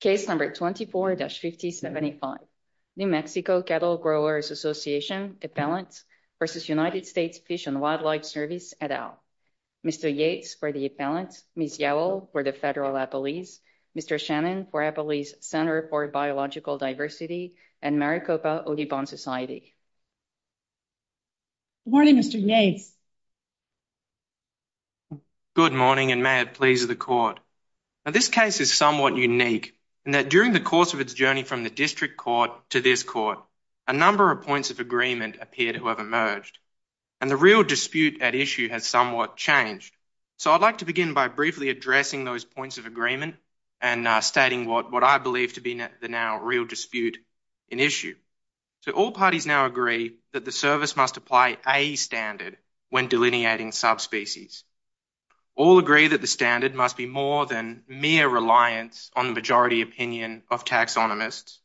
Case number 24-5075 New Mexico Cattle Growers' Association Appellants v. United States Fish and Wildlife Service, et al. Mr. Yates for the Appellants, Ms. Yowell for the Federal Appellees, Mr. Shannon for Appellees' Center for Biological Diversity, and Maricopa Oribón Society. Good morning, Mr. Yates. Good morning, and may it please the Court. This case is somewhat unique in that during the course of its journey from the District Court to this Court, a number of points of agreement appear to have emerged, and the real dispute at issue has somewhat changed. So I'd like to begin by briefly addressing those points of agreement and stating what I believe to be the now real dispute in issue. So all parties now agree that the Service must apply a standard when delineating subspecies. All agree that the standard must be more than mere reliance on the majority opinion of taxonomists.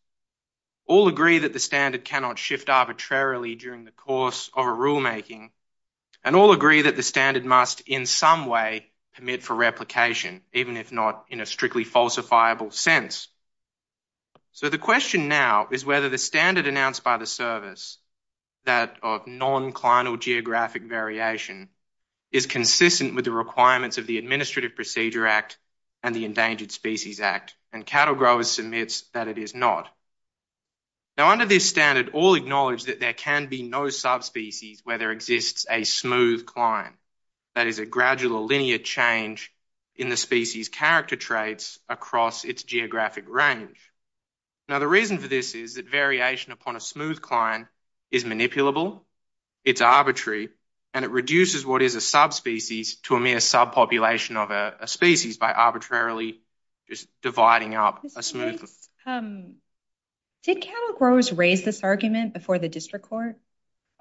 All agree that the standard cannot shift arbitrarily during the course of a rulemaking. And all agree that the standard must in some way permit for replication, even if not in a strictly falsifiable sense. So the question now is whether the standard announced by the Service, that of non-clinal geographic variation, is consistent with the requirements of the Administrative Procedure Act and the Endangered Species Act, and Cattle Growers submits that it is not. Now under this standard, all acknowledge that there can be no subspecies where there exists a smooth cline, that is a gradual linear change in the species' character traits across its geographic range. Now the reason for this is that variation upon a smooth cline is manipulable, it's arbitrary, and it reduces what is a subspecies to a mere subpopulation of a species by arbitrarily just dividing up a smooth... Did Cattle Growers raise this argument before the District Court?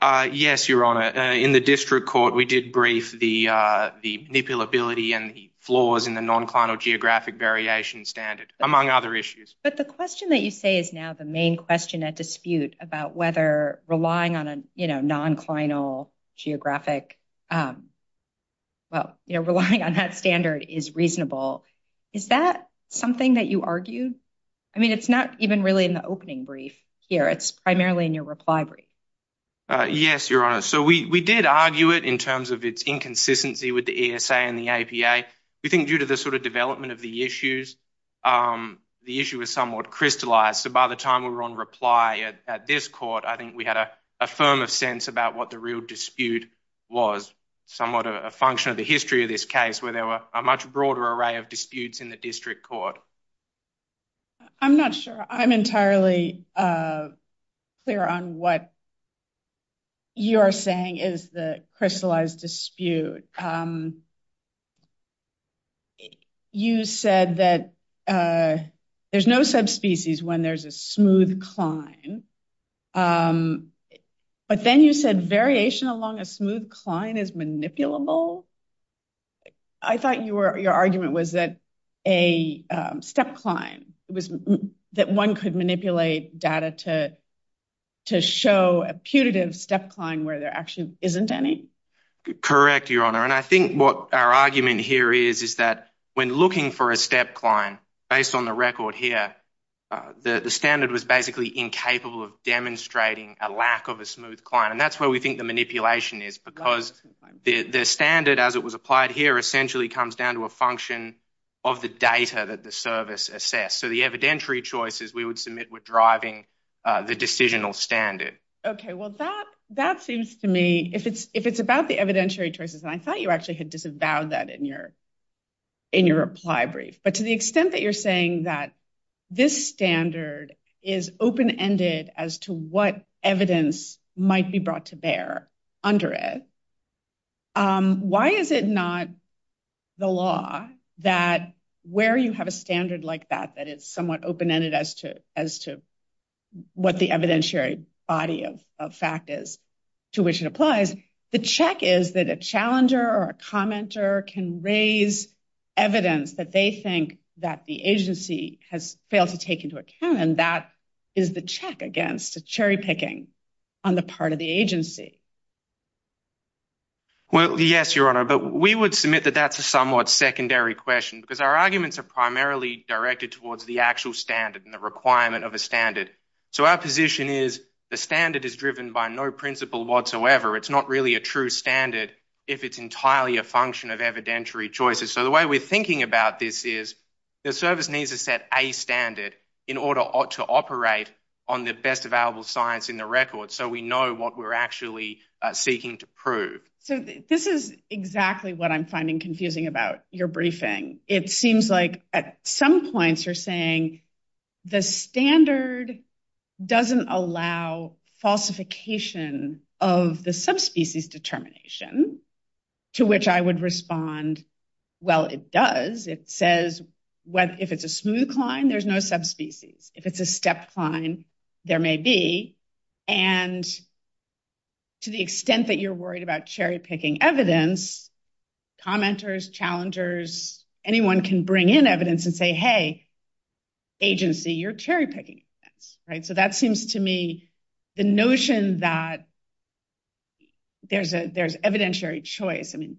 Yes, Your Honour. In the District Court, we did brief the manipulability and the non-clinal geographic variation standard, among other issues. But the question that you say is now the main question at dispute about whether relying on a non-clinal geographic... Well, relying on that standard is reasonable. Is that something that you argued? I mean, it's not even really in the opening brief here, it's primarily in your reply brief. Yes, Your Honour. So we did argue it in terms of its inconsistency with the ESA and the APA, due to the sort of development of the issues, the issue was somewhat crystallized. So by the time we were on reply at this court, I think we had a firm of sense about what the real dispute was, somewhat a function of the history of this case, where there were a much broader array of disputes in the District Court. I'm not sure. I'm entirely clear on what you're saying is the crystallized dispute. You said that there's no subspecies when there's a smooth cline. But then you said variation along a smooth cline is manipulable. I thought your argument was that a step cline, that one could manipulate data to show a putative step cline where there actually isn't any? Correct, Your Honour. And I think what our argument here is, is that when looking for a step cline, based on the record here, the standard was basically incapable of demonstrating a lack of a smooth cline. And that's where we think the manipulation is, because the standard, as it was applied here, essentially comes down to a function of the data that the service assessed. So the evidentiary choices we would submit were driving the decisional standard. Okay. Well, that seems to me, if it's about the evidentiary choices, and I thought you actually had disavowed that in your reply brief. But to the extent that you're saying that this standard is open-ended as to what evidence might be brought to bear under it, why is it not the law that where you have a standard like that, that it's somewhat open-ended as to what the evidentiary body of fact is to which it applies, the check is that a challenger or a commenter can raise evidence that they think that the agency has failed to take into account. And that is the check against a cherry-picking on the part of the agency. Well, yes, Your Honour. But we would submit that that's a somewhat secondary question, because our arguments are primarily directed towards the actual standard and the requirement of a standard. So our position is the standard is driven by no principle whatsoever. It's not really a true standard if it's entirely a function of evidentiary choices. So the way we're thinking about this is the service needs to set a standard in order to operate on the best available science in the record, so we know what we're actually seeking to prove. So this is exactly what I'm finding confusing about your briefing. It seems like at some points you're saying the standard doesn't allow falsification of the subspecies determination, to which I would respond, well, it does. It says if it's a smooth climb, there's no subspecies. If it's a step climb, there may be. And to the extent that you're worried about cherry-picking evidence, commenters, challengers, anyone can bring in evidence and say, hey, agency, you're cherry-picking. So that seems to me the notion that there's evidentiary choice. I mean,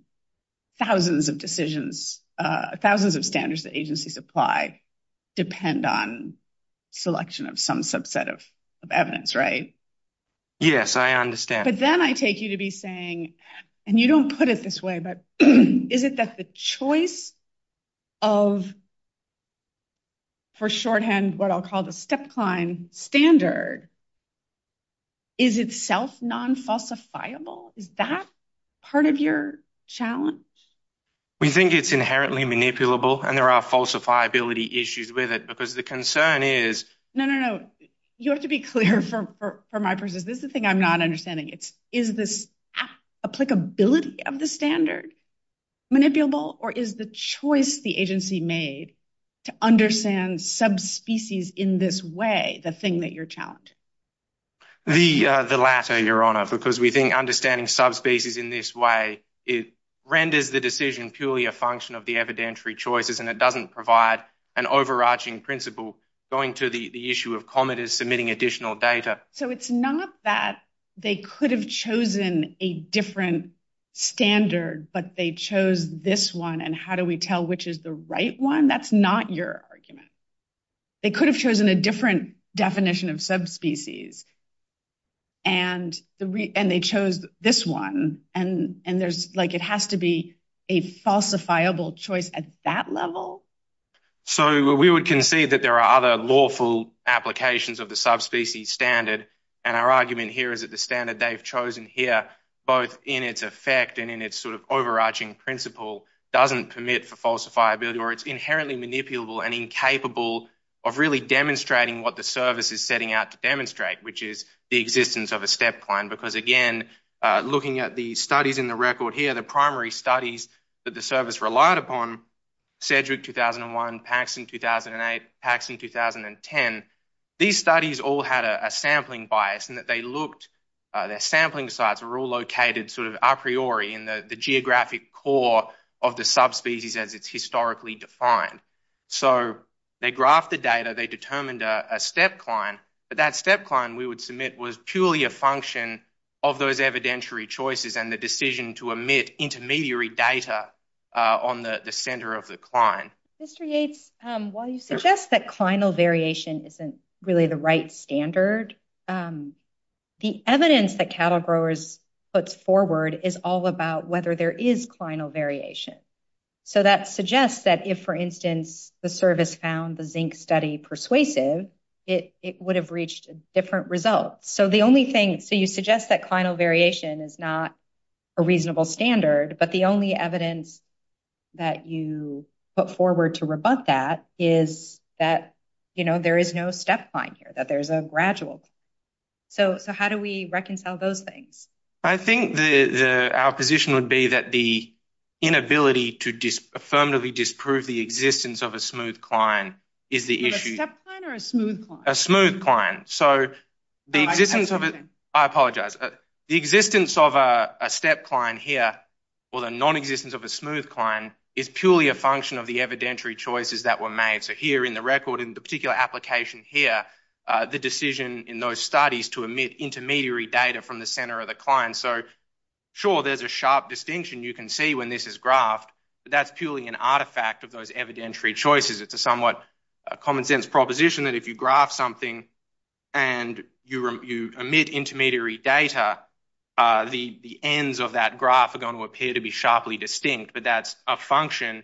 thousands of decisions, thousands of standards that agencies apply depend on selection of some subset of evidence, right? Yes, I understand. But then I take you to be saying, and you don't put it this way, but is it that the choice of, for shorthand, what I'll call the step-climb standard, is itself non-falsifiable? Is that part of your challenge? We think it's inherently manipulable, and there are falsifiability issues with it, because the concern is... No, no, no. You have to be clear for my person. This is the thing I'm not understanding. Is this applicability of the standard manipulable, or is the choice the agency made to understand subspecies in this way the thing that you're challenging? The latter, Your Honour, because we think understanding subspecies in this way, it renders the decision purely a function of the evidentiary choices, and it doesn't provide an overarching principle going to the issue of commenters submitting additional data. So it's not that they could have chosen a different standard, but they chose this one, and how do we tell which is the right one? That's not your argument. They could have chosen a different definition of subspecies, and they chose this one, and it has to be a falsifiable choice at that level? So we would concede that there are other lawful applications of the subspecies standard, and our argument here is that the standard they've chosen here, both in its effect and in its sort of overarching principle, doesn't permit for falsifiability, or it's inherently manipulable and incapable of really demonstrating what the service is setting out to demonstrate, which is the existence of a step plan. Because again, looking at the studies in the record here, the primary studies that the service relied upon, Cedric 2001, Paxson 2008, Paxson 2010, these studies all had a sampling bias in that their sampling sites were all located sort of a priori in the geographic core of the subspecies as it's historically defined. So they graphed the data, they determined a step client, but that step client we would submit was purely a function of those evidentiary choices and the decision to omit intermediary data on the centre of the client. Mr. Yates, while you suggest that clinal variation isn't really the right standard, the evidence that Cattle Growers puts forward is all about whether there is clinal variation. So that suggests that if, for instance, the service found the zinc study persuasive, it would have reached different results. So you suggest that clinal variation is not a reasonable standard, but the only evidence that you put forward to rebut that is that, you know, there is no step client here, that there's a gradual. So how do we reconcile those things? I think our position would be that the inability to affirmatively disprove the existence of a smooth client is the issue. A step client or a smooth client? A smooth client. So the existence of it, I apologise, the existence of a step client here or the non-existence of a smooth client is purely a function of the evidentiary choices that were made. So here in the record, in the particular application here, the decision in those studies to omit intermediary data from the centre of the client. So sure, there's a sharp distinction you can see when this is graphed, but that's purely an artefact of those evidentiary choices. It's a somewhat common sense proposition that if you graph something and you omit intermediary data, the ends of that graph are going to appear to be sharply distinct, but that's a function,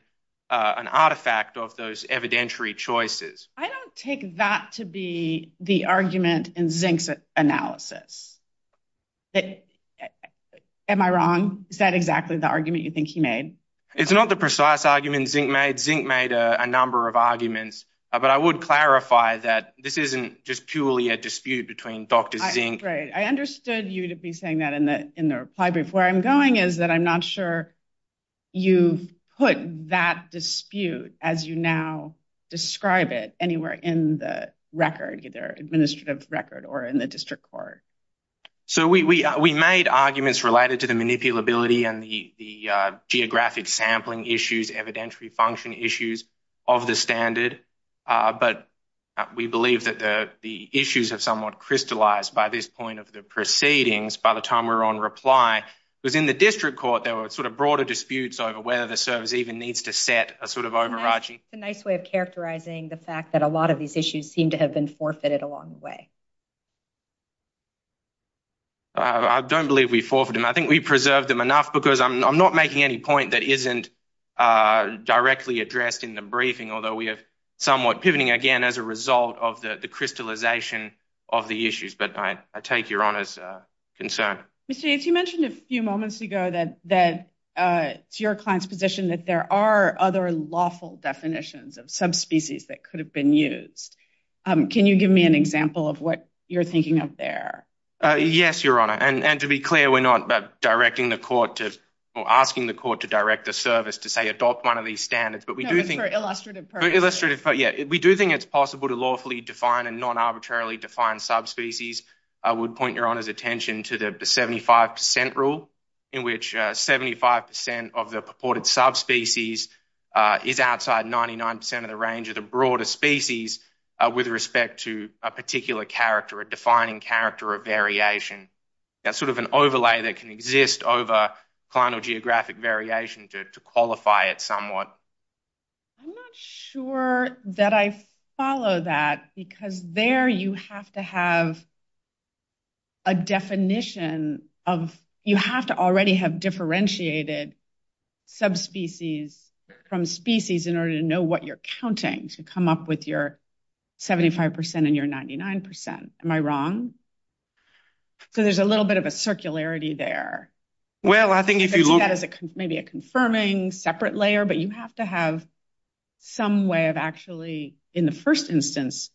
an artefact of those evidentiary choices. I don't take that to be the argument in Zink's analysis. Am I wrong? Is that exactly the argument you think he made? It's not the precise argument Zink made. Zink made a number of arguments, but I would clarify that this isn't just purely a dispute between Dr Zink. Right. I understood you to be saying that in the reply brief. Where I'm going is that I'm not sure you've put that dispute as you now describe it anywhere in the record, either administrative record or in the district court. So we made arguments related to the but we believe that the issues have somewhat crystallized by this point of the proceedings by the time we were on reply. Because in the district court, there were sort of broader disputes over whether the service even needs to set a sort of overarching... It's a nice way of characterizing the fact that a lot of these issues seem to have been forfeited along the way. I don't believe we forfeited them. I think we preserved them enough because I'm not making any point that isn't directly addressed in the briefing, although we have somewhat pivoting again as a result of the crystallization of the issues. But I take your Honour's concern. Mr Yates, you mentioned a few moments ago that it's your client's position that there are other lawful definitions of subspecies that could have been used. Can you give me an example of what you're thinking of there? Yes, Your Honour. And to be clear, we're not directing the court to, or asking the court to direct the service to say adopt one of these standards, but we do think... No, but for illustrative purposes. Illustrative purposes, yeah. We do think it's possible to lawfully define and non-arbitrarily define subspecies. I would point Your Honour's attention to the 75% rule in which 75% of the purported subspecies is outside 99% of the range of the broader species with respect to a particular defining character of variation. That's sort of an overlay that can exist over cliental geographic variation to qualify it somewhat. I'm not sure that I follow that because there you have to have a definition of, you have to already have differentiated subspecies from species in order to know what you're counting to come up with your 75% and your 99%. Am I wrong? So there's a little bit of a circularity there. Well, I think if you look at it... Maybe a confirming separate layer, but you have to have some way of actually, in the first instance,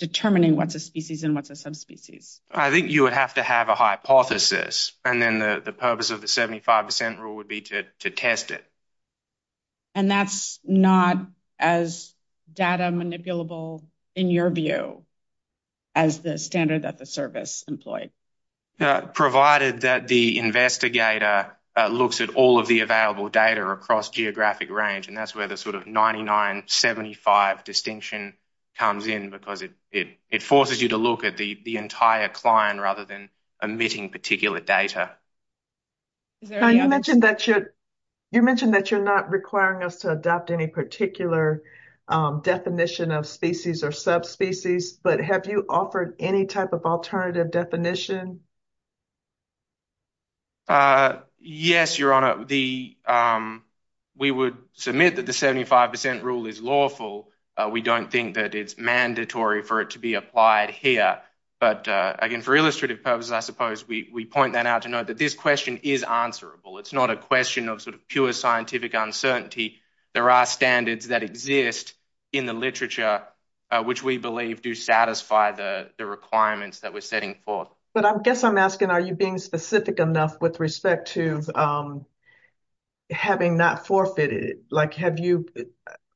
determining what's a species and what's a subspecies. I think you would have to have a hypothesis and then the purpose of the 75% rule would be to test it. And that's not as data manipulable in your view as the standard that the service employed? Provided that the investigator looks at all of the available data across geographic range, and that's where the sort of 99-75 distinction comes in because it forces you to look at the entire client rather than omitting particular data. You mentioned that you're not requiring us to adopt any particular definition of species or subspecies, but have you offered any type of alternative definition? Yes, Your Honour. We would submit that the 75% rule is lawful. We don't think that it's mandatory for it to be applied here. But again, for illustrative purposes, I suppose, we point that out to note that this question is answerable. It's not a question of sort of pure scientific uncertainty. There are standards that exist in the literature, which we believe do satisfy the requirements that we're setting forth. But I guess I'm asking, are you being specific enough with respect to having not forfeited? Like, have you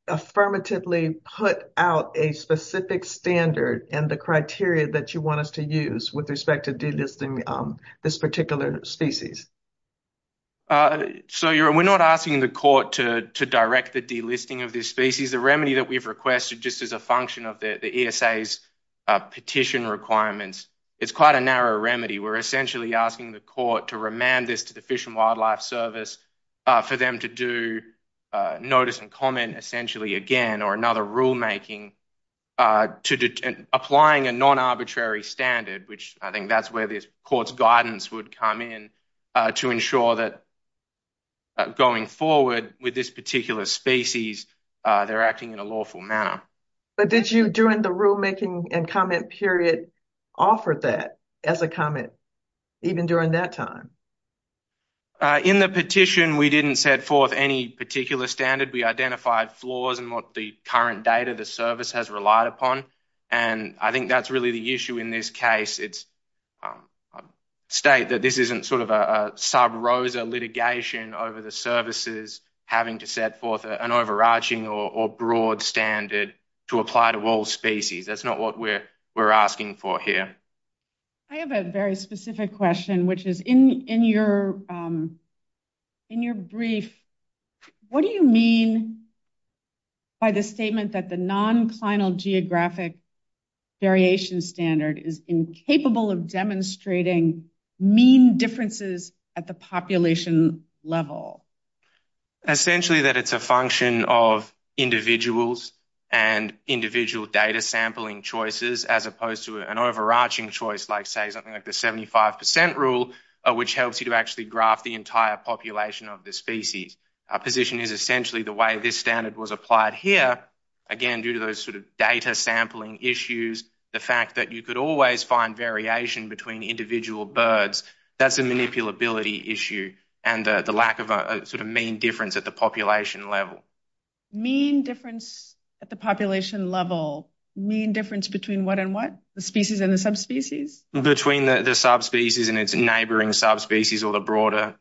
affirmatively put out a specific standard and the criteria that you want us to use with respect to delisting this particular species? We're not asking the court to direct the delisting of this species. The remedy that we've requested just as a function of the ESA's petition requirements, it's quite a narrow remedy. We're essentially asking the court to remand this to the Fish and Wildlife Service for them to do notice and comment essentially again, or another rulemaking, applying a non-arbitrary standard, which I think that's where the court's guidance would come in, to ensure that going forward with this particular species, they're acting in a lawful manner. But did you, during the rulemaking and comment period, offer that as a comment, even during that time? In the petition, we didn't set forth any particular standard. We identified flaws in what the current data the service has relied upon. And I think that's really the issue in this case. It's a state that this isn't sort of a sub-rosa litigation over the services having to set forth an overarching or broad standard to apply to all species. That's not what we're asking for here. I have a very specific question, which is in your brief, what do you mean by the statement that the non-clinal geographic variation standard is incapable of demonstrating mean differences at the population level? Essentially that it's a function of individuals and individual data sampling choices, as opposed to an overarching choice, like say something like the 75% rule, which helps you to actually graph the entire population of the species. Our position is essentially the way this standard was applied here. Again, due to those sort of data sampling issues, the fact that you could always find variation between individual birds, that's a manipulability issue. And the lack of a mean difference at the population level. Mean difference at the population level, mean difference between what and what? The species and the subspecies? Between the subspecies and its neighbouring subspecies or the broader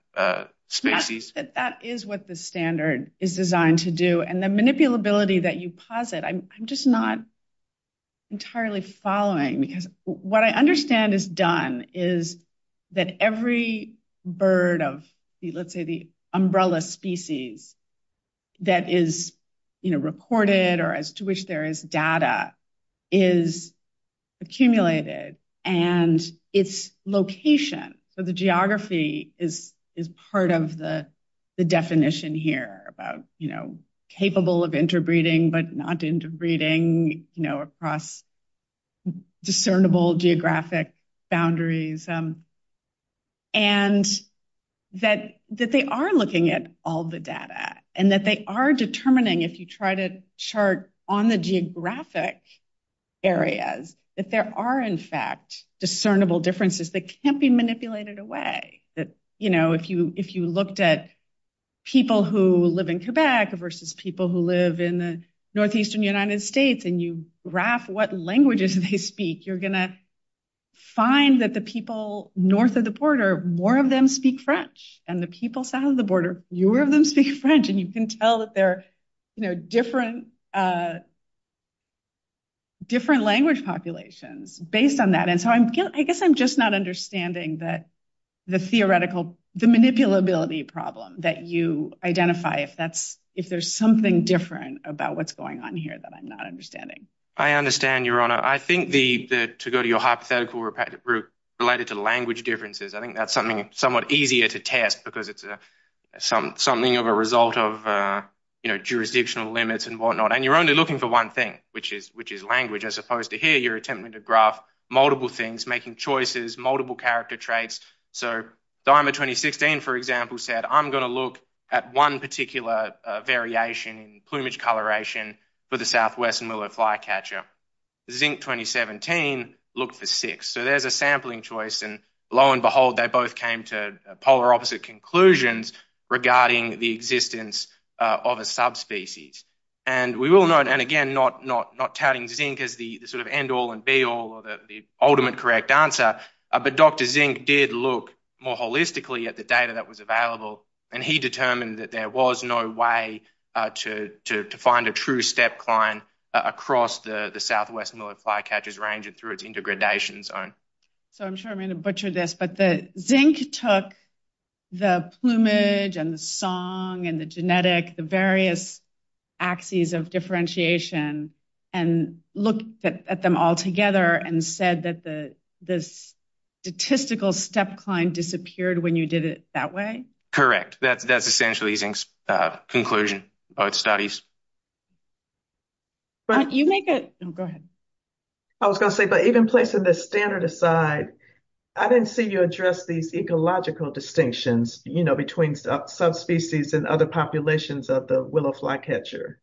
species. That is what the standard is designed to do. And the manipulability that you posit, I'm just not entirely following because what I understand is done is that every bird of, let's say, umbrella species that is recorded or as to which there is data is accumulated. And its location, so the geography is part of the definition here about capable of interbreeding, but not interbreeding across discernible geographic boundaries. And that they are looking at all the data and that they are determining if you try to chart on the geographic areas, that there are in fact discernible differences that can't be manipulated away. If you looked at people who live in Quebec versus people who live in the northeastern United States and you graph what languages they speak, you're going to find that the people north of the border, more of them speak French. And the people south of the border, fewer of them speak French. And you can tell that they're different language populations based on that. And so I guess I'm just not understanding the manipulability problem that you identify if there's something different about what's going on here that I'm not understanding. I understand, Your Honor. I think to go to your hypothetical route related to language differences, I think that's something somewhat easier to test because it's something of a result of jurisdictional limits and whatnot. And you're only looking for one thing, which is language, as opposed to here, attempting to graph multiple things, making choices, multiple character traits. So DIMA 2016, for example, said, I'm going to look at one particular variation in plumage coloration for the southwestern willow flycatcher. Zinc 2017 looked for six. So there's a sampling choice and lo and behold, they both came to polar opposite conclusions regarding the existence of a species. And we will note, and again, not touting zinc as the sort of end all and be all or the ultimate correct answer, but Dr. Zinc did look more holistically at the data that was available and he determined that there was no way to find a true step client across the southwest willow flycatchers range and through its intergradation zone. So I'm sure I'm going to axes of differentiation and look at them all together and said that the statistical step client disappeared when you did it that way. Correct. That's essentially Zinc's conclusion about studies. Go ahead. I was going to say, but even placing the standard aside, I didn't see you address these ecological distinctions between subspecies and other populations of the willow flycatcher.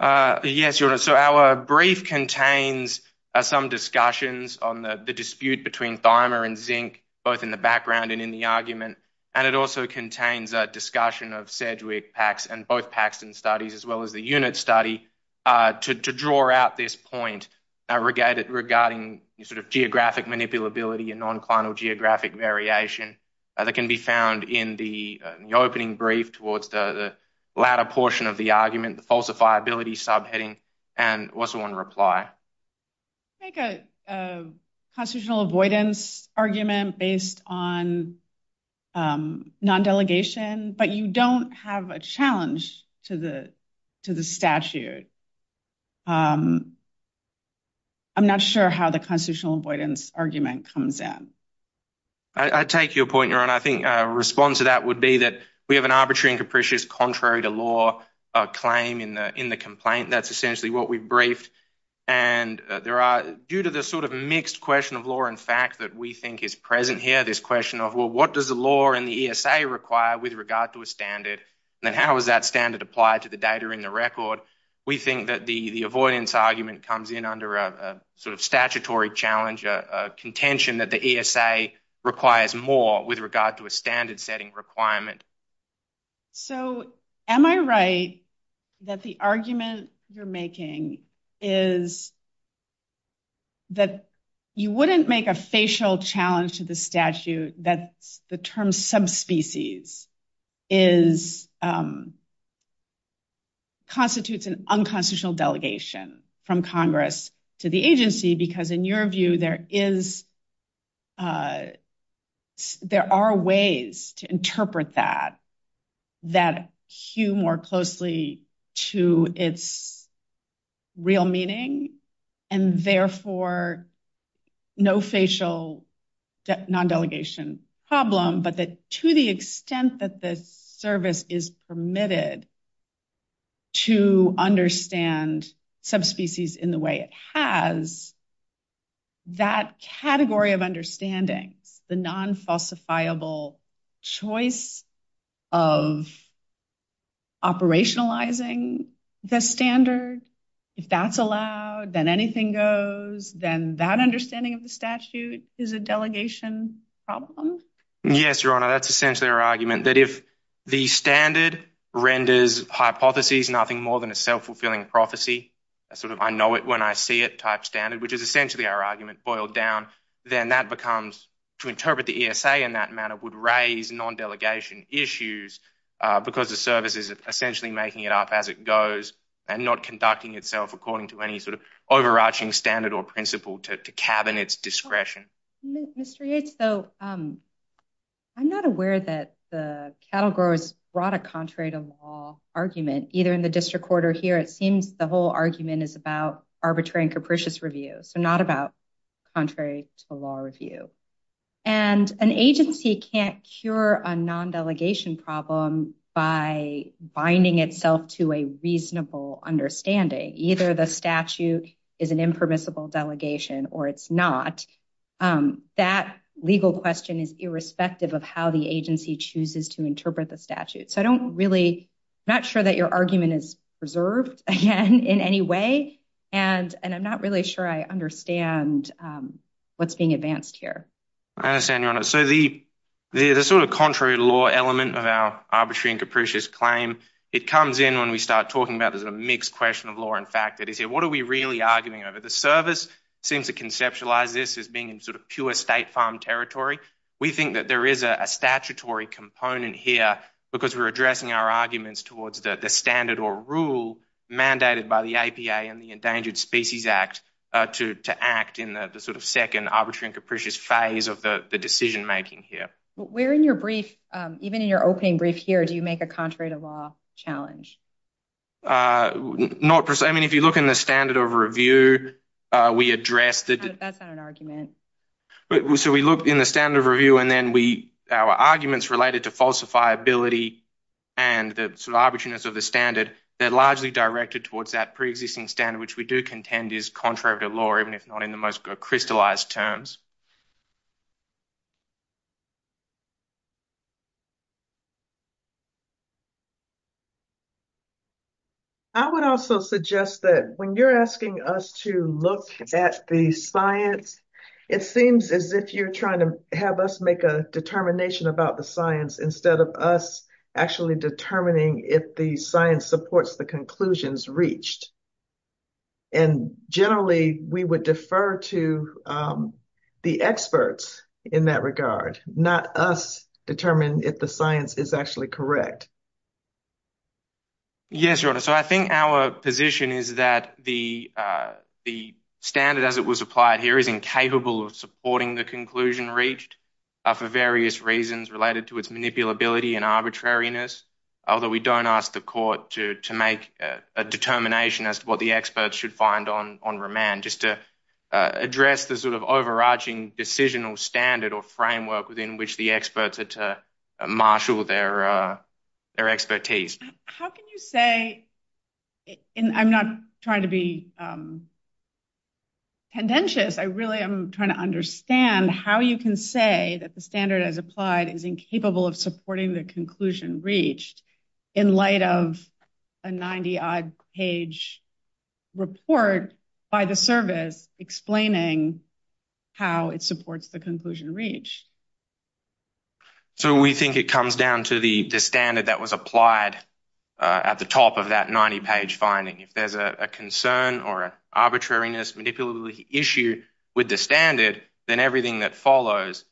Yes, your honor. So our brief contains some discussions on the dispute between Thimer and Zinc, both in the background and in the argument. And it also contains a discussion of Sedgwick-Pax and both Paxton studies as well as the unit study to draw out this point regarding sort of geographic manipulability and non-clinal geographic variation that can be found in the opening brief towards the latter portion of the argument, the falsifiability subheading and also on reply. Make a constitutional avoidance argument based on non-delegation, but you don't have a challenge to the statute. I'm not sure how the constitutional avoidance argument comes in. I take your point, your honor. I think a response to that would be that we have an arbitrary and capricious contrary to law claim in the complaint. That's essentially what we've briefed. And there are, due to the sort of mixed question of law and fact that we think is present here, this question of, well, what does the law and the ESA require with regard to a standard? And then how is that standard applied to the data in the record? We think that the avoidance argument comes in under a sort of statutory challenge, a contention that the ESA requires more with regard to a standard setting requirement. So am I right that the argument you're making is that you wouldn't make a facial challenge to the statute that the term subspecies is constitutes an unconstitutional delegation from Congress to the agency? Because in your view, there are ways to interpret that, that hue more closely to its real meaning and therefore no facial non-delegation problem, but that to the extent that the service is permitted to understand subspecies in the way it has, that category of understandings, the non-falsifiable choice of operationalizing the standard, if that's allowed, then anything goes, then that understanding of the statute is a delegation problem? Yes, Your Honor, that's essentially our argument that if the standard renders hypotheses, nothing more than a self-fulfilling prophecy, a sort of I know it when I see it type standard, which is essentially our argument boiled down, then that becomes to interpret the ESA in that would raise non-delegation issues because the service is essentially making it up as it goes and not conducting itself according to any sort of overarching standard or principle to cabinet's discretion. Mr. Yates, though, I'm not aware that the cattle growers brought a contrary to law argument either in the district court or here. It seems the whole argument is about arbitrary and capricious review, so not about contrary to law review. And an agency can't cure a non-delegation problem by binding itself to a reasonable understanding. Either the statute is an impermissible delegation or it's not. That legal question is irrespective of how the agency chooses to interpret the statute. So I and I'm not really sure I understand what's being advanced here. I understand, Your Honor. So the sort of contrary to law element of our arbitrary and capricious claim, it comes in when we start talking about there's a mixed question of law and fact that is here. What are we really arguing over? The service seems to conceptualize this as being in sort of pure state farm territory. We think that there is a statutory component here because we're addressing our arguments towards the standard or rule mandated by the APA and Endangered Species Act to act in the sort of second arbitrary and capricious phase of the decision making here. Where in your brief, even in your opening brief here, do you make a contrary to law challenge? Not per se. I mean, if you look in the standard of review, we address that. That's not an argument. So we look in the standard of review and then we, our arguments related to falsifiability and the sort of arbitrariness of the standard, they're largely directed towards that pre-existing standard, which we do contend is contrary to law, even if not in the most crystallized terms. I would also suggest that when you're asking us to look at the science, it seems as if you're trying to have us make a determination about the science instead of us actually determining if the science supports the conclusions reached. And generally, we would defer to the experts in that regard, not us determine if the science is actually correct. Yes, your honor. So I think our position is that the standard as it was applied here is incapable of supporting the conclusion reached for various reasons related to its manipulability and arbitrariness. Although we don't ask the court to make a determination as to what the experts should find on remand, just to address the sort of overarching decisional standard or framework within which the experts are to marshal their expertise. How can you say, and I'm not trying to be contentious, I really am trying to understand how you can say that the standard as applied is incapable of supporting the conclusion reached in light of a 90 odd page report by the service explaining how it supports the conclusion reached. So we think it comes down to the standard that was applied at the top of that 90 page finding. If there's a concern or arbitrariness manipulability issue with the standard, then everything that follows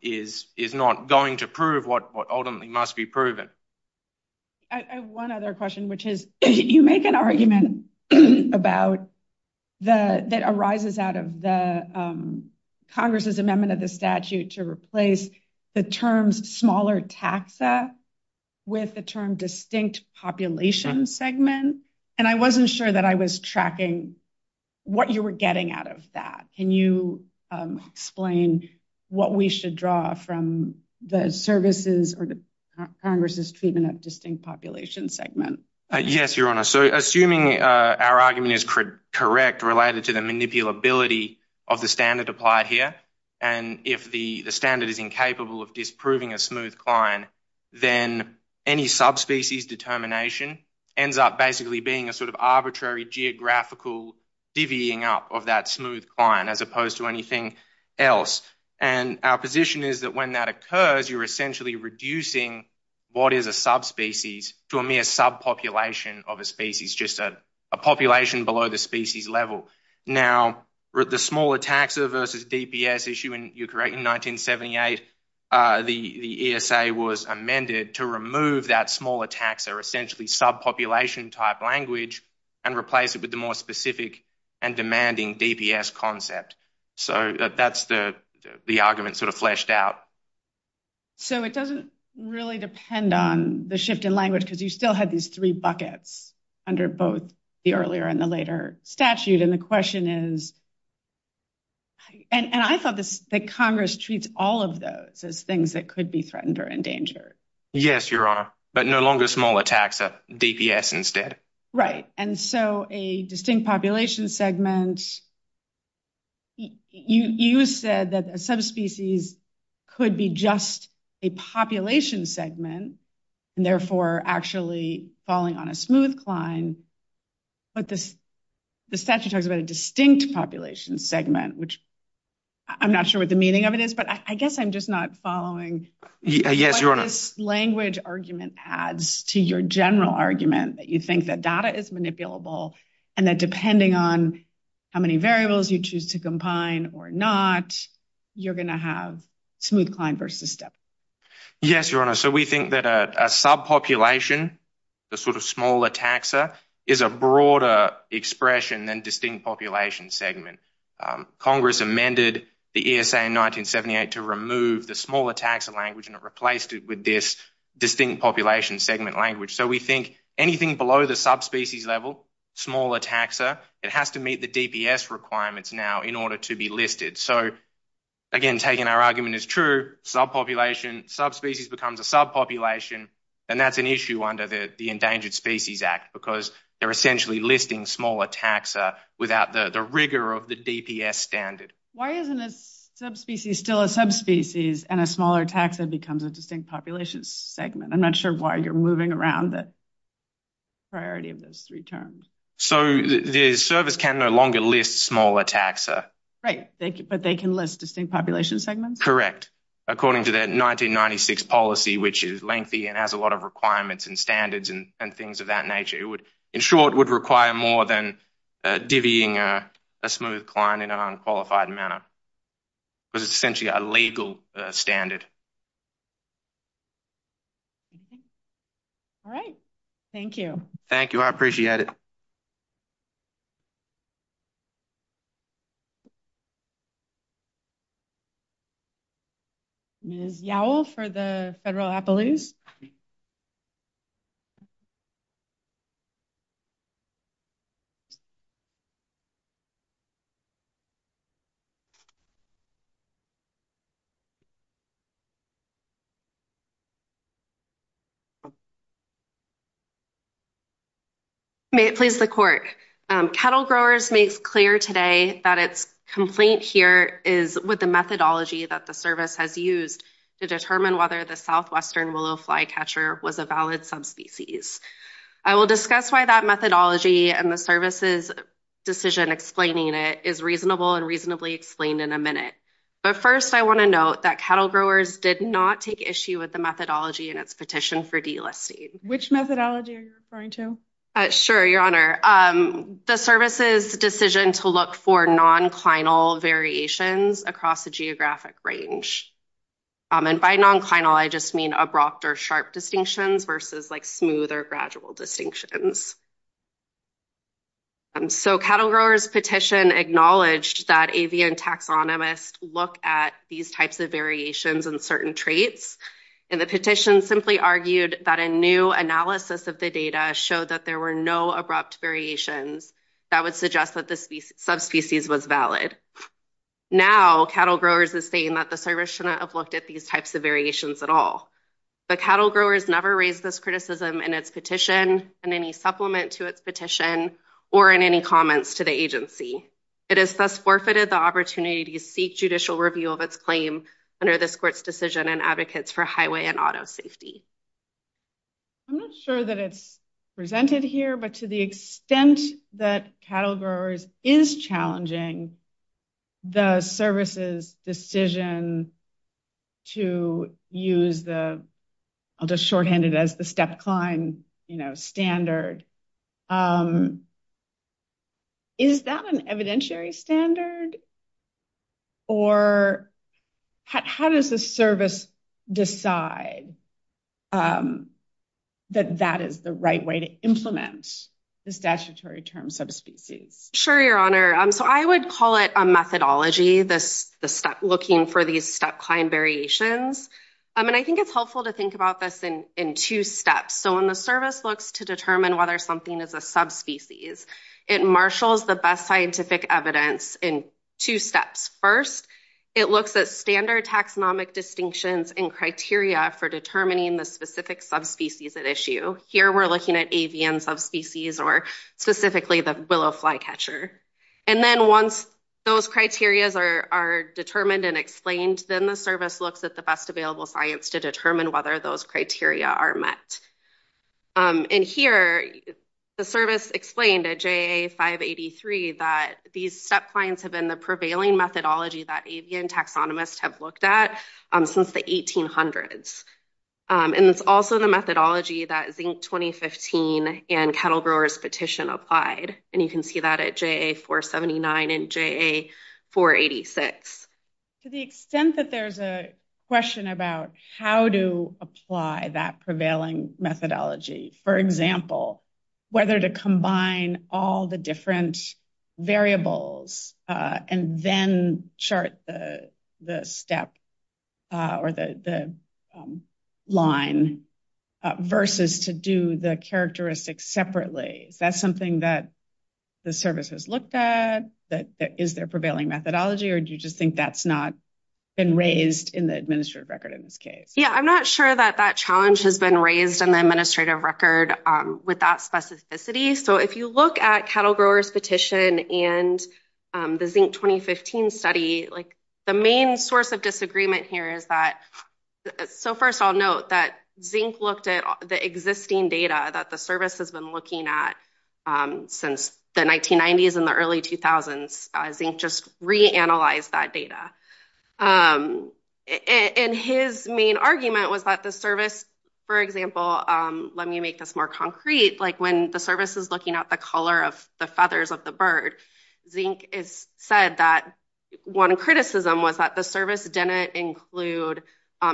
is not going to prove what ultimately must be proven. I have one other question, which is, you make an argument that arises out of the Congress's amendment of the statute to replace the terms smaller taxa with the term distinct population segment. And I wasn't sure that I was tracking what you were getting out of that. Can you explain what we should draw from the services or the Congress's treatment of distinct population segment? Yes, Your Honor. So assuming our argument is correct related to the manipulability of the standard applied here, and if the standard is incapable of disproving a smooth climb, then any subspecies determination ends up basically being a sort of arbitrary geographical divvying up of that smooth climb as opposed to anything else. And our position is that when that occurs, you're essentially reducing what is a subspecies to a mere subpopulation of a species, just a population below the species level. Now, the smaller taxa versus DPS issue in 1978, the ESA was amended to remove that smaller taxa, essentially subpopulation type language, and replace it with the more specific and demanding DPS concept. So that's the argument sort of fleshed out. So it doesn't really depend on the shift in language because you still had these three buckets under both the earlier and the later statute. And the question is, and I thought that Congress treats all of those as things that could be threatened or in danger. Yes, Your Honor, but no longer smaller taxa, DPS instead. Right. And so a distinct population segment, you said that a subspecies could be just a population segment, and therefore actually falling on a smooth climb. But the statute talks about a distinct population segment, which I'm not sure what the meaning of it is, but I guess I'm just not following what this language argument adds to your general argument that you think that data is manipulable, and that depending on how many variables you choose to combine or not, you're going to have smooth climb versus step. Yes, Your Honor. So we think that a subpopulation, the sort of smaller taxa, is a broader expression than distinct population segment. Congress amended the ESA in 1978 to remove the smaller taxa language and it replaced it with this distinct population segment language. So we think anything below the subspecies level, smaller taxa, it has to meet the DPS requirements now in order to be listed. So again, taking our subpopulation, subspecies becomes a subpopulation, and that's an issue under the Endangered Species Act because they're essentially listing smaller taxa without the rigor of the DPS standard. Why isn't a subspecies still a subspecies and a smaller taxa becomes a distinct population segment? I'm not sure why you're moving around the priority of those three terms. So the service can no longer list smaller taxa. Right, but they can list distinct population segments? Correct, according to the 1996 policy, which is lengthy and has a lot of requirements and standards and things of that nature. In short, it would require more than divvying a smooth climb in an unqualified manner because it's essentially a legal standard. All right. Thank you. Thank you. I appreciate it. Ms. Yowell for the Federal Appaloose. May it please the Court. Cattle Growers makes clear today that its complaint here is with the service has used to determine whether the southwestern willow flycatcher was a valid subspecies. I will discuss why that methodology and the service's decision explaining it is reasonable and reasonably explained in a minute. But first, I want to note that cattle growers did not take issue with the methodology in its petition for delisting. Which methodology are you referring to? Sure, Your Honor. The service's decision to look for non-clinal variations across the range. And by non-clinal, I just mean abrupt or sharp distinctions versus smooth or gradual distinctions. So cattle growers' petition acknowledged that avian taxonomists look at these types of variations and certain traits. And the petition simply argued that a new analysis of the data showed that there were no abrupt variations that would suggest that the subspecies was valid. Now cattle growers is saying that the service should not have looked at these types of variations at all. But cattle growers never raised this criticism in its petition and any supplement to its petition or in any comments to the agency. It has thus forfeited the opportunity to seek judicial review of its claim under this court's decision and advocates for highway and auto safety. I'm not sure that it's presented here, but to the extent that cattle growers is challenging the service's decision to use the, I'll just shorthand it as the step-climb standard. Is that an evidentiary standard? Or how does the service decide that that is the right way to implement the statutory term subspecies? Sure, Your Honor. So I would call it a methodology, the step looking for these step-climb variations. And I think it's helpful to think about this in two steps. So when the service looks to determine whether something is a subspecies, it marshals the best scientific evidence in two steps. First, it looks at standard taxonomic distinctions and criteria for determining the specific subspecies at issue. Here we're looking at avian subspecies or specifically the willow flycatcher. And then once those criterias are determined and explained, then the service looks at the best available science to determine whether those criteria are met. And here the service explained at JA583 that these step-climbs have been the prevailing methodology that avian taxonomists have looked at since the 1800s. And it's also the methodology that Zink 2015 and Cattle Growers Petition applied. And you can see that at JA479 and JA486. To the extent that there's a question about how to apply that prevailing methodology, for example, whether to combine all the different variables and then chart the step or the line versus to do the characteristics separately, is that something that the service has looked at? Is there prevailing methodology or do you just think that's not been raised in the administrative record in this case? Yeah, I'm not sure that that challenge has been raised in the administrative record with that specificity. So if you look at Cattle Growers Petition and the Zink 2015 study, like the main source of disagreement here is that, so first I'll note that Zink looked at the existing data that the service has been looking at since the 1990s and the early 2000s. Zink just re-analyzed that data. And his main argument was that the service, for example, let me make this more concrete, like when the service is looking at the color of the feathers of the bird, Zink has said that one criticism was that the service didn't include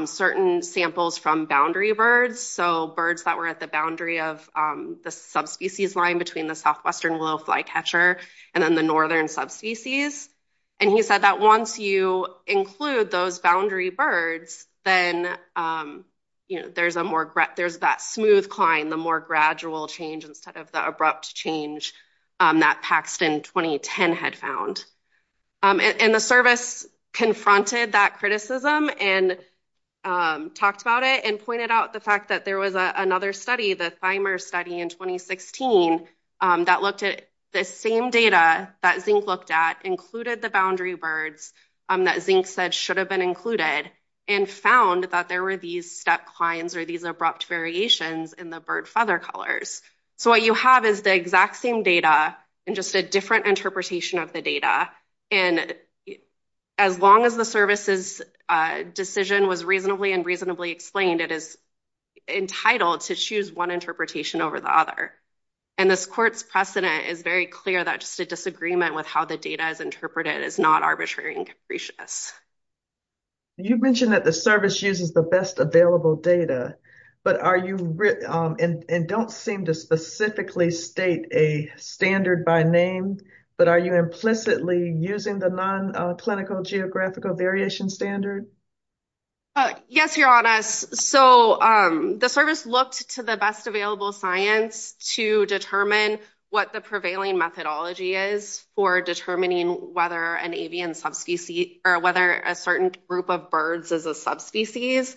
certain samples from boundary birds. So birds that were at the boundary of the subspecies line between the southwestern willow flycatcher and then the northern subspecies. And he said that once you include those boundary birds, then there's a more, there's that smooth climb, the more gradual change instead of the abrupt change that Paxton 2010 had found. And the service confronted that criticism and talked about it and pointed out the fact that there was another study, the Thimer study in 2016, that looked at the same data that Zink looked at, included the boundary birds that Zink said should have been included, and found that there were these step climbs or these abrupt variations in the bird feather colors. So what you have is the exact same data and just a different interpretation of the data. And as long as the service's decision was reasonably and reasonably explained, it is entitled to choose one interpretation over the other. And this court's precedent is very clear that just a disagreement with how the data is interpreted is not arbitrary and capricious. You mentioned that the service uses the best available data, but are you, and don't seem to specifically state a standard by name, but are you implicitly using the non-clinical geographical variation standard? Yes, Your Honors. So the service looked to the best available science to determine what the prevailing methodology is for determining whether an avian subspecies, or whether a certain group of birds is a subspecies.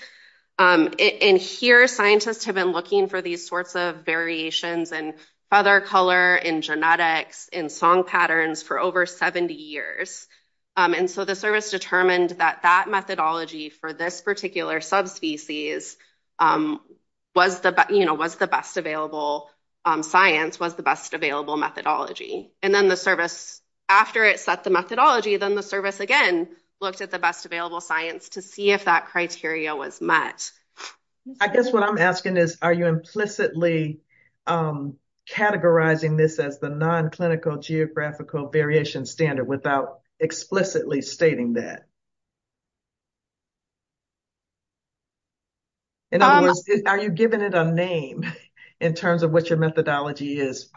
And here, scientists have been looking for these sorts of variations in feather color, in genetics, in song patterns for over 70 years. And so the service determined that that methodology for this particular subspecies was the best available science, was the best available methodology. And then the service, after it set the methodology, then the service again looked at the best available science to see if that criteria was met. I guess what I'm asking is, are you implicitly categorizing this as the non-clinical geographical variation standard without explicitly stating that? In other words, are you giving it a name in terms of what your methodology is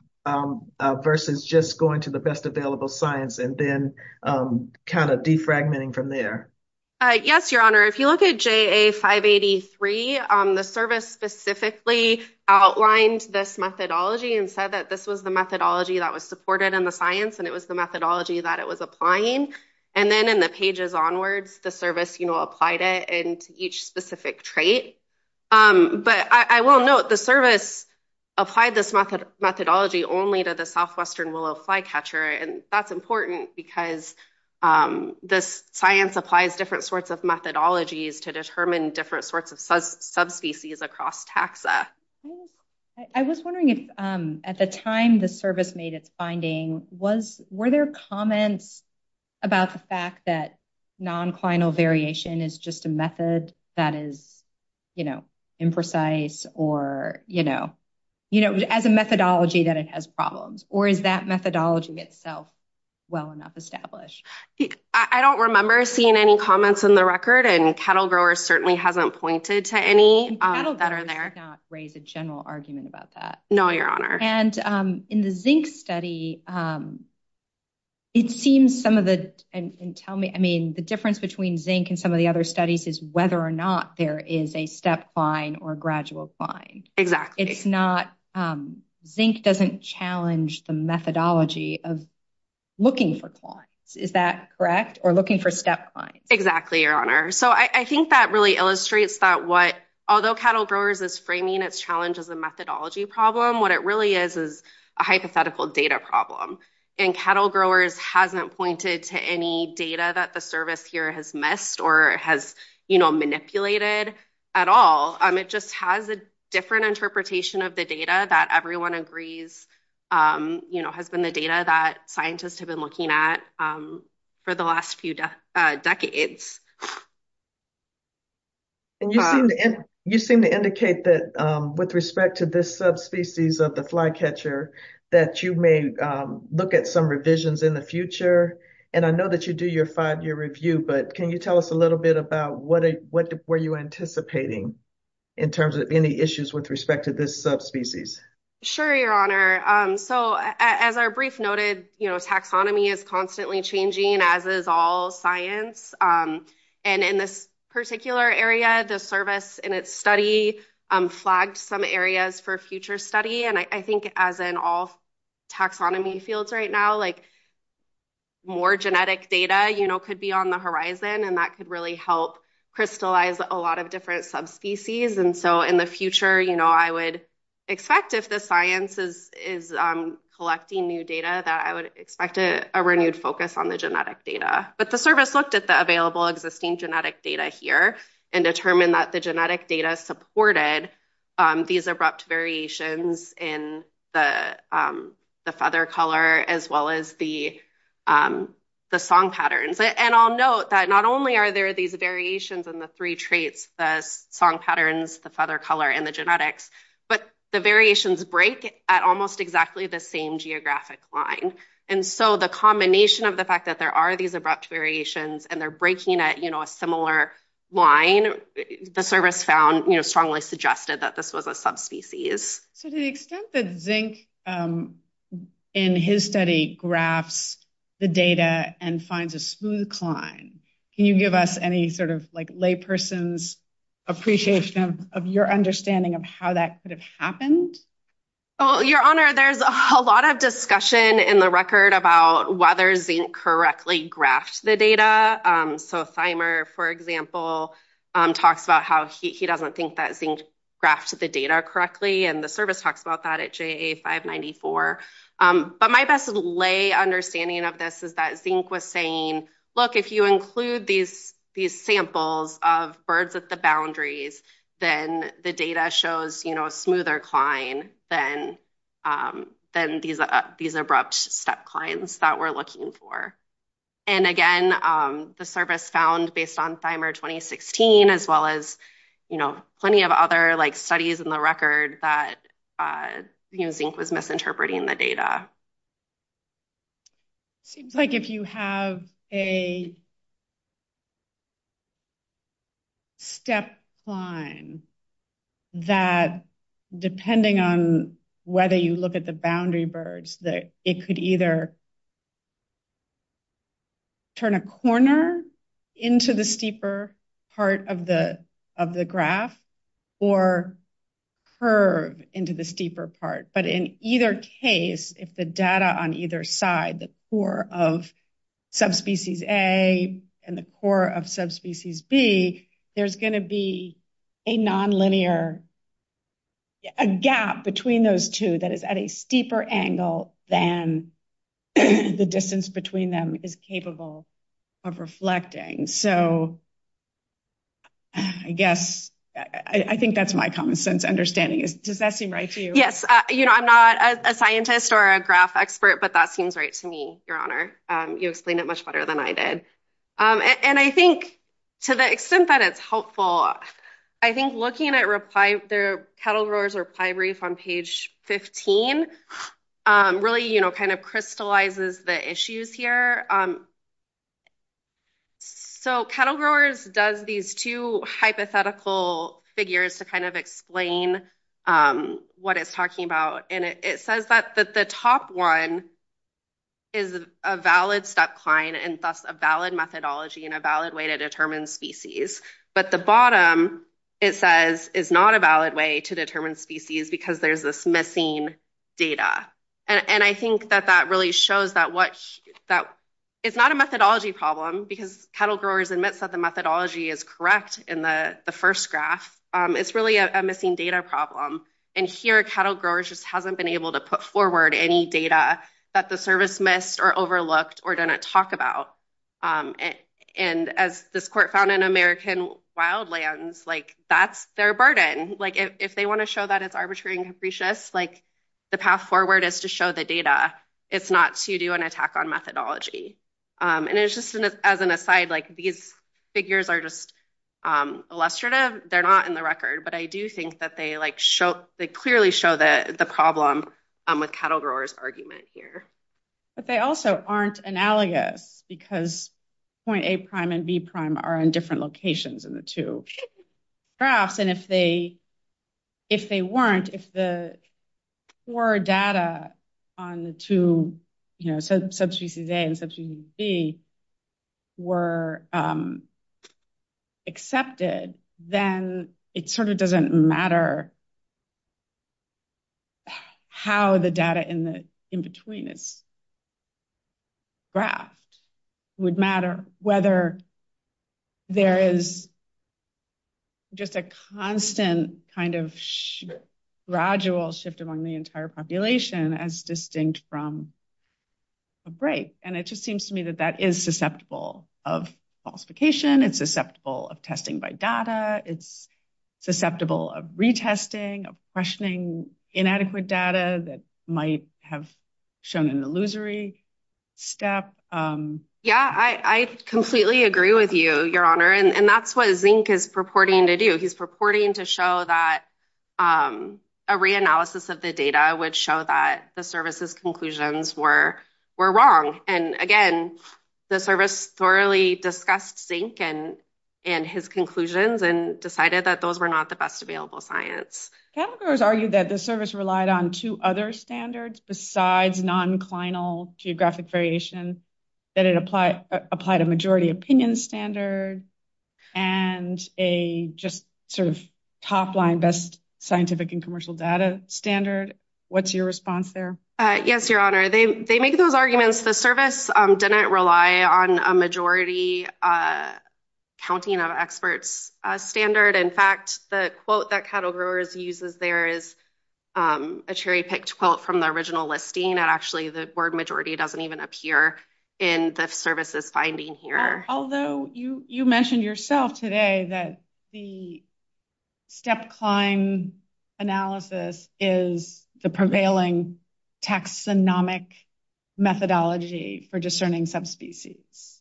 versus just going to the best available science and then kind of defragmenting from there? Yes, Your Honor. If you look at JA583, the service specifically outlined this methodology and said that this was the methodology that was supported in the science, and it was the methodology that it was applying. And then in the pages onwards, the service applied it into each specific trait. But I will note the service applied this methodology only to the southwestern willow catcher. And that's important because this science applies different sorts of methodologies to determine different sorts of subspecies across taxa. I was wondering if at the time the service made its finding, were there comments about the fact that non-clinical variation is just a method that is, you know, imprecise or, you know, you know, as a methodology that it has problems, or is that methodology itself well enough established? I don't remember seeing any comments on the record, and Cattle Growers certainly hasn't pointed to any that are there. And Cattle Growers did not raise a general argument about that. No, Your Honor. And in the zinc study, it seems some of the, and tell me, I mean, the difference between zinc and the other studies is whether or not there is a step cline or gradual cline. It's not, zinc doesn't challenge the methodology of looking for clines. Is that correct? Or looking for step clines? Exactly, Your Honor. So I think that really illustrates that what, although Cattle Growers is framing its challenge as a methodology problem, what it really is is a hypothetical data problem. And Cattle Growers hasn't pointed to any data that the service here has missed or has, you know, manipulated at all. It just has a different interpretation of the data that everyone agrees, you know, has been the data that scientists have been looking at for the last few decades. And you seem to indicate that with respect to this subspecies of the flycatcher, that you may look at some revisions in the future. And I know that you do your five-year review, but can you tell us a little bit about what were you anticipating in terms of any issues with respect to this subspecies? Sure, Your Honor. So as our brief noted, you know, taxonomy is constantly changing, as is all science. And in this particular area, the service in its study flagged some areas for future study. And I think as in all taxonomy fields right now, like, more genetic data, you know, could be on the horizon, and that could really help crystallize a lot of different subspecies. And so in the future, you know, I would expect if the science is collecting new data, that I would expect a renewed focus on the genetic data. But the service looked at the available existing genetic data here and determined that the genetic data supported these abrupt variations in the feather color, as well as the song patterns. And I'll note that not only are there these variations in the three traits, the song patterns, the feather color, and the genetics, but the variations break at almost exactly the same geographic line. And so the combination of the fact that there are these abrupt variations, and they're breaking at, you know, a similar line, the service found, you know, strongly suggested that this was a subspecies. So to the extent that Zink, in his study, graphs the data and finds a smooth climb, can you give us any sort of, like, layperson's appreciation of your understanding of how that could have happened? Oh, Your Honor, there's a lot of discussion in the record about whether Zink correctly graphed the data. So Thimer, for example, talks about how he doesn't think that Zink graphed the data correctly, and the service talks about that at JA594. But my best lay understanding of this is that Zink was saying, look, if you include these samples of birds at the boundaries, then the data shows, you know, a smoother climb than these abrupt step climbs that we're looking for. And again, the service found, based on Thimer 2016, as well as, you know, plenty of other, like, studies in the record that, you know, Zink was misinterpreting the data. Seems like if you have a step climb that, depending on whether you look at the boundary birds, that it could either turn a corner into the steeper part of the graph, or curve into the steeper part. But in either case, if the data on either side, the core of subspecies A and the core of subspecies B, there's going to be a nonlinear, a gap between those two that is at a steeper angle than the distance between them is capable of reflecting. So I guess, I think that's my common sense understanding. Does that seem right to you? Yes. You know, I'm not a scientist or a graph expert, but that seems right to me, Your Honor. You explained it much better than I did. And I think, to the extent that it's helpful, I think looking at cattle growers or pie reef on page 15 really, you know, kind of crystallizes the issues here. So cattle growers does these two hypothetical figures to kind of explain what it's talking about. And it says that the top one is a valid step climb and thus a valid methodology and a valid way to determine species. But the bottom, it says, is not a valid way to determine species because there's this missing data. And I think that that really shows that it's not a methodology problem because cattle growers admits that the methodology is correct in the first graph. It's really a missing data problem. And here, cattle growers just hasn't been able to put forward any data that the service missed or overlooked or didn't talk about. And as this court found in Wildlands, that's their burden. If they want to show that it's arbitrary and capricious, the path forward is to show the data. It's not to do an attack on methodology. And it's just as an aside, these figures are just illustrative. They're not in the record, but I do think that they clearly show the problem with cattle growers' argument here. But they also aren't analogous because point A' and B' are in different locations in the two graphs. And if they weren't, if the poor data on the two, you know, subspecies A and subspecies B were accepted, then it sort of would matter whether there is just a constant kind of gradual shift among the entire population as distinct from a break. And it just seems to me that that is susceptible of falsification, it's susceptible of testing by data, it's susceptible of retesting, of questioning inadequate data that might have shown an illusory step. Yeah, I completely agree with you, Your Honor. And that's what Zink is purporting to do. He's purporting to show that a re-analysis of the data would show that the service's conclusions were wrong. And again, the service thoroughly discussed Zink and his conclusions and decided that those were not the best available science. Cattle growers argue that the service relied on two other standards besides non-clinal geographic variation, that it applied a majority opinion standard and a just sort of top-line best scientific and commercial data standard. What's your response there? Yes, Your Honor. They make those arguments. The service didn't rely on a majority counting of experts standard. In fact, the quote that cattle growers uses there is a cherry-picked quote from the original listing, and actually the word majority doesn't even appear in the service's finding here. Although you mentioned yourself today that the step-climb analysis is the prevailing taxonomic methodology for discerning subspecies.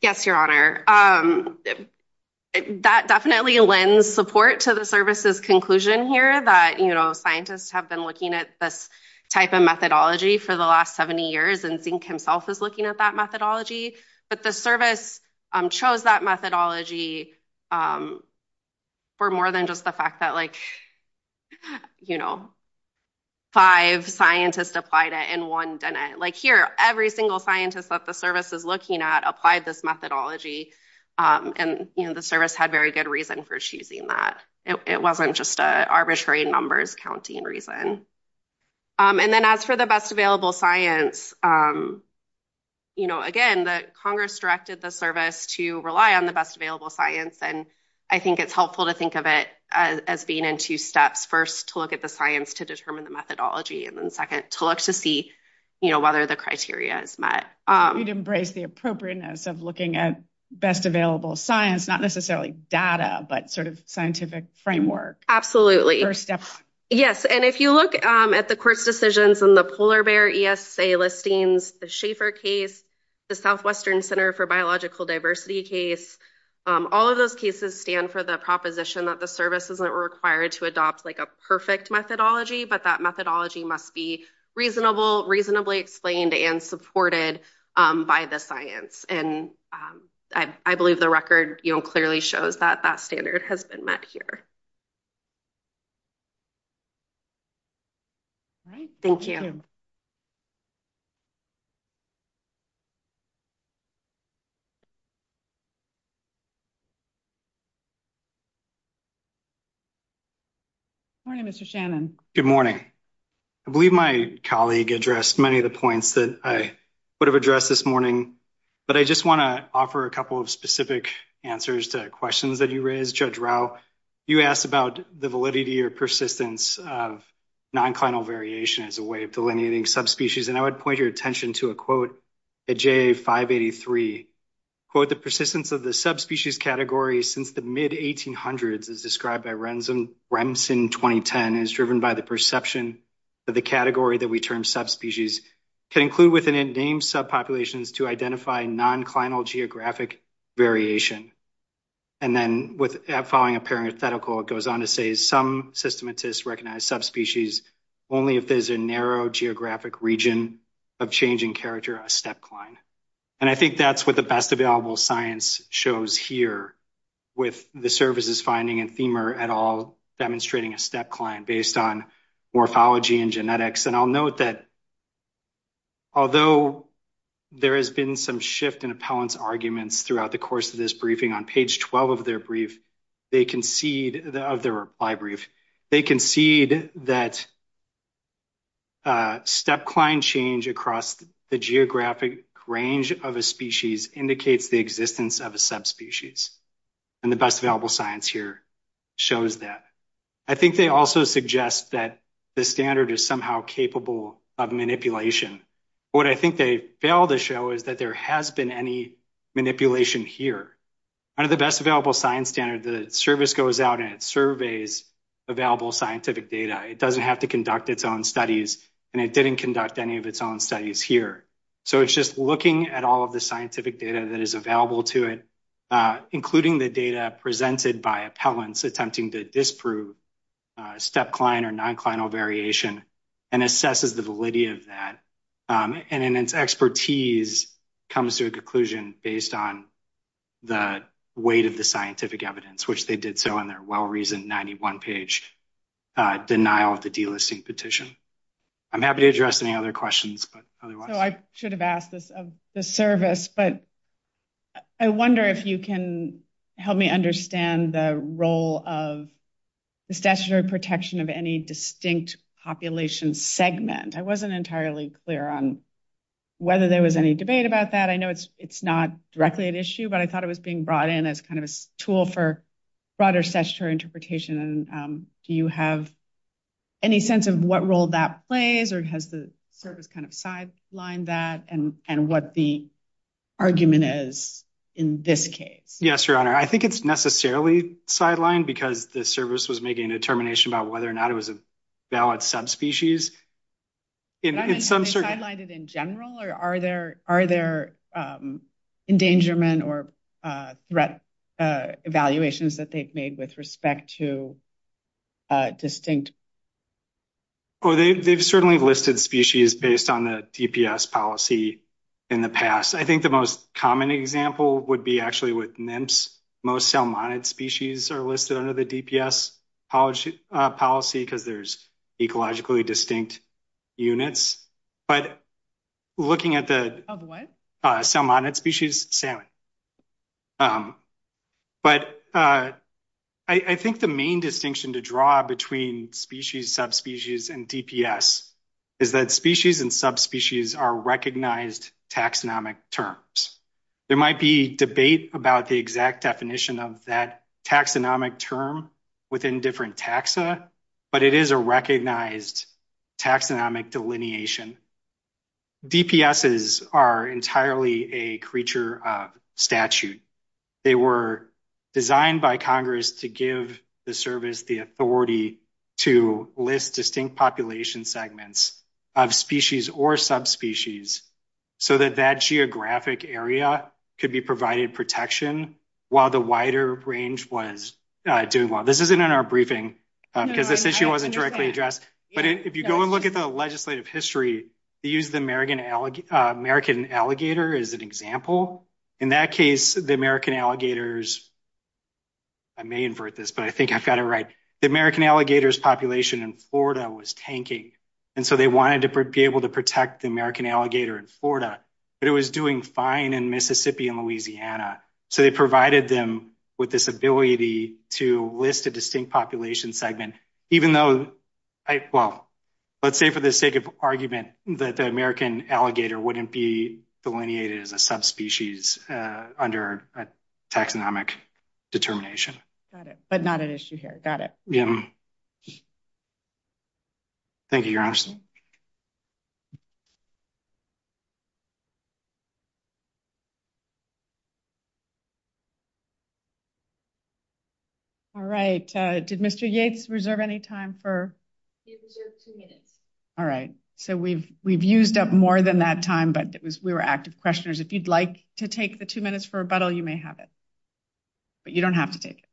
Yes, Your Honor. That definitely lends support to the service's conclusion here that scientists have been looking at this type of methodology for the last 70 years, and Zink himself is looking at that methodology. But the service chose that methodology for more than just the fact that applied this methodology, and the service had very good reason for choosing that. It wasn't just an arbitrary numbers counting reason. And then as for the best available science, again, the Congress directed the service to rely on the best available science, and I think it's helpful to think of it as being in two steps. First, to look at the science to determine the methodology, and then second, to look to see whether the criteria is met. You'd embrace the appropriateness of looking at best available science, not necessarily data, but sort of scientific framework. Absolutely. Yes, and if you look at the court's decisions in the polar bear ESA listings, the Schaeffer case, the Southwestern Center for Biological Diversity case, all of those cases stand for the proposition that the service isn't required to adopt like a perfect methodology, but that methodology must be reasonable, reasonably explained and supported by the science. And I believe the record clearly shows that that standard has been met here. All right. Thank you. Good morning, Mr. Shannon. Good morning. I believe my colleague addressed many of the points that I would have addressed this morning, but I just want to offer a couple of specific answers to questions that you raised. Judge Rao, you asked about the validity or persistence of nonclinal variation as a way of delineating subspecies. And I would point your attention to a quote at JA583. Quote, the persistence of the subspecies category since the mid-1800s, as described by Remsen 2010, is driven by the perception that the category that we term subspecies can include within a name subpopulations to identify nonclinal geographic variation. And then following a parenthetical, it goes on to say some systematists recognize subspecies only if there's a narrow geographic region of changing character, a stepcline. And I think that's what the best available science shows here with the services finding and Thimer et al. demonstrating a stepcline based on morphology and genetics. And I'll note that although there has been some shift in appellant's arguments throughout the course of this briefing, on page 12 of their reply brief, they concede that stepcline change across the geographic range of a species indicates the existence of a subspecies. And the best available science here shows that. I think they also suggest that the standard is somehow capable of manipulation. What I think they fail to show is that there has been any manipulation here. Under the best available science standard, the service goes out and it surveys available scientific data. It doesn't have to conduct its own studies, and it didn't conduct any of its own studies here. So it's just looking at all of the scientific data that is available to it, including the data presented by appellants attempting to disprove stepcline or nonclinal variation, and assesses the validity of that. And in its expertise, it comes to a conclusion based on the weight of the scientific evidence, which they did so in their well-reasoned 91-page denial of the delisting petition. I'm happy to address any other questions. So I should have asked this of the service, but I wonder if you can help me understand the role of the statutory protection of any distinct population segment. I wasn't entirely clear on whether there was any debate about that. I know it's not directly an issue, but I thought it was being brought in as kind of a tool for broader statutory interpretation. Do you have any sense of what role that plays, or has the service kind of sidelined that, and what the argument is in this case? Yes, Your Honor. I think it's necessarily sidelined because the service was making a determination about whether or not it was a valid subspecies. Are they sidelined in general, or are there endangerment or threat evaluations that they've made with respect to distinct? They've certainly listed species based on the DPS policy in the past. I think the most common example would be actually with nymphs. Most selmonid species are listed under the DPS policy because there's ecologically distinct units. But looking at the selmonid species, salmon. But I think the main distinction to draw between species, subspecies, and DPS is that species and subspecies are recognized taxonomic terms. There might be debate about the exact definition of that taxonomic term within different taxa, but it is a recognized taxonomic delineation. DPSs are entirely a creature of statute. They were designed by to give the service the authority to list distinct population segments of species or subspecies so that that geographic area could be provided protection while the wider range was doing well. This isn't in our briefing because this issue wasn't directly addressed. But if you go and look at the legislative history, they use the American alligator as an example. In that case, the American alligators, I may invert this, but I think I've got it right. The American alligators population in Florida was tanking. And so they wanted to be able to protect the American alligator in Florida, but it was doing fine in Mississippi and Louisiana. So they provided them with this ability to list a distinct population segment, even though, well, let's say for the sake of argument, that the American alligator wouldn't be delineated as a subspecies under a taxonomic determination. Got it. But not an issue here. Got it. Yeah. Thank you, Your Honor. All right. Did Mr. Yates reserve any time for? He reserved two minutes. All right. So we've used up more than that time, but we were active questioners. If you'd like to take the two minutes for rebuttal, you may have it. But you don't have to take it.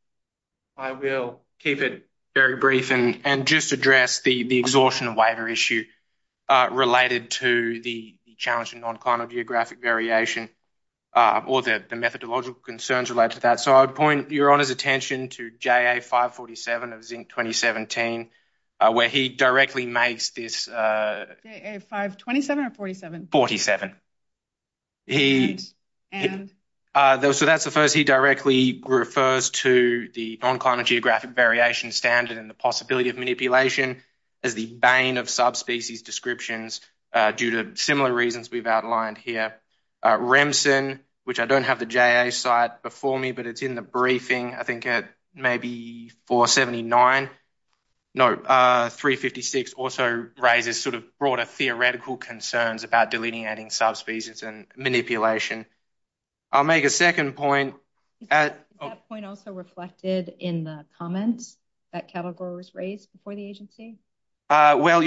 I will keep it very brief and just address the exhaustion waiver issue related to the challenge in non-climate geographic variation or the methodological concerns related to that. So I would point Your Honor's attention to JA547 of Zinc 2017, where he directly makes this... JA527 or 47? 47. So that's the first he directly refers to the non-climate geographic variation standard and the possibility of manipulation as the bane of subspecies descriptions due to similar reasons we've outlined here. Remsen, which I don't have the JA site before me, but it's in the briefing, I think at maybe 479. No, 356 also raises sort of broader theoretical concerns about delineating subspecies and manipulation. I'll make a second point. Is that point also reflected in the comments that cattle growers raised before the agency? Well,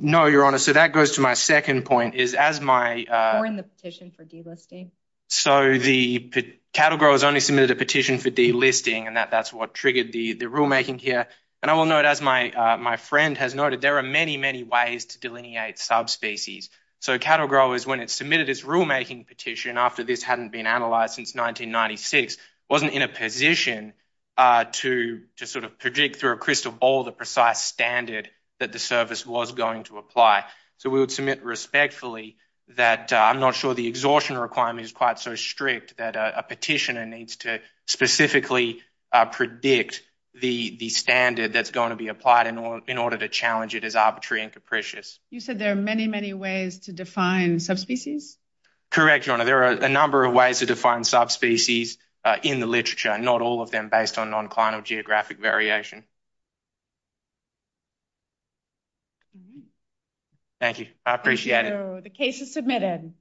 no, Your Honor. So that goes to my second point, is as my... Or in the petition for delisting. So the cattle growers only submitted a petition for delisting, and that's what triggered the rulemaking here. And I will note, as my friend has noted, there are many, many ways to delineate subspecies. So cattle growers, when it's submitted its rulemaking petition after this hadn't been analyzed since 1996, wasn't in a position to sort of predict through a crystal ball the precise standard that the service was going to apply. So we would submit respectfully that I'm not sure the exhaustion requirement is quite so strict that a petitioner needs to specifically predict the standard that's going to be applied in order to challenge it as arbitrary and capricious. You said there are many, many ways to define subspecies? Correct, Your Honor. There are a number of ways to define subspecies in the literature, not all of them based on non-clinical geographic variation. Thank you. I appreciate it. The case is submitted.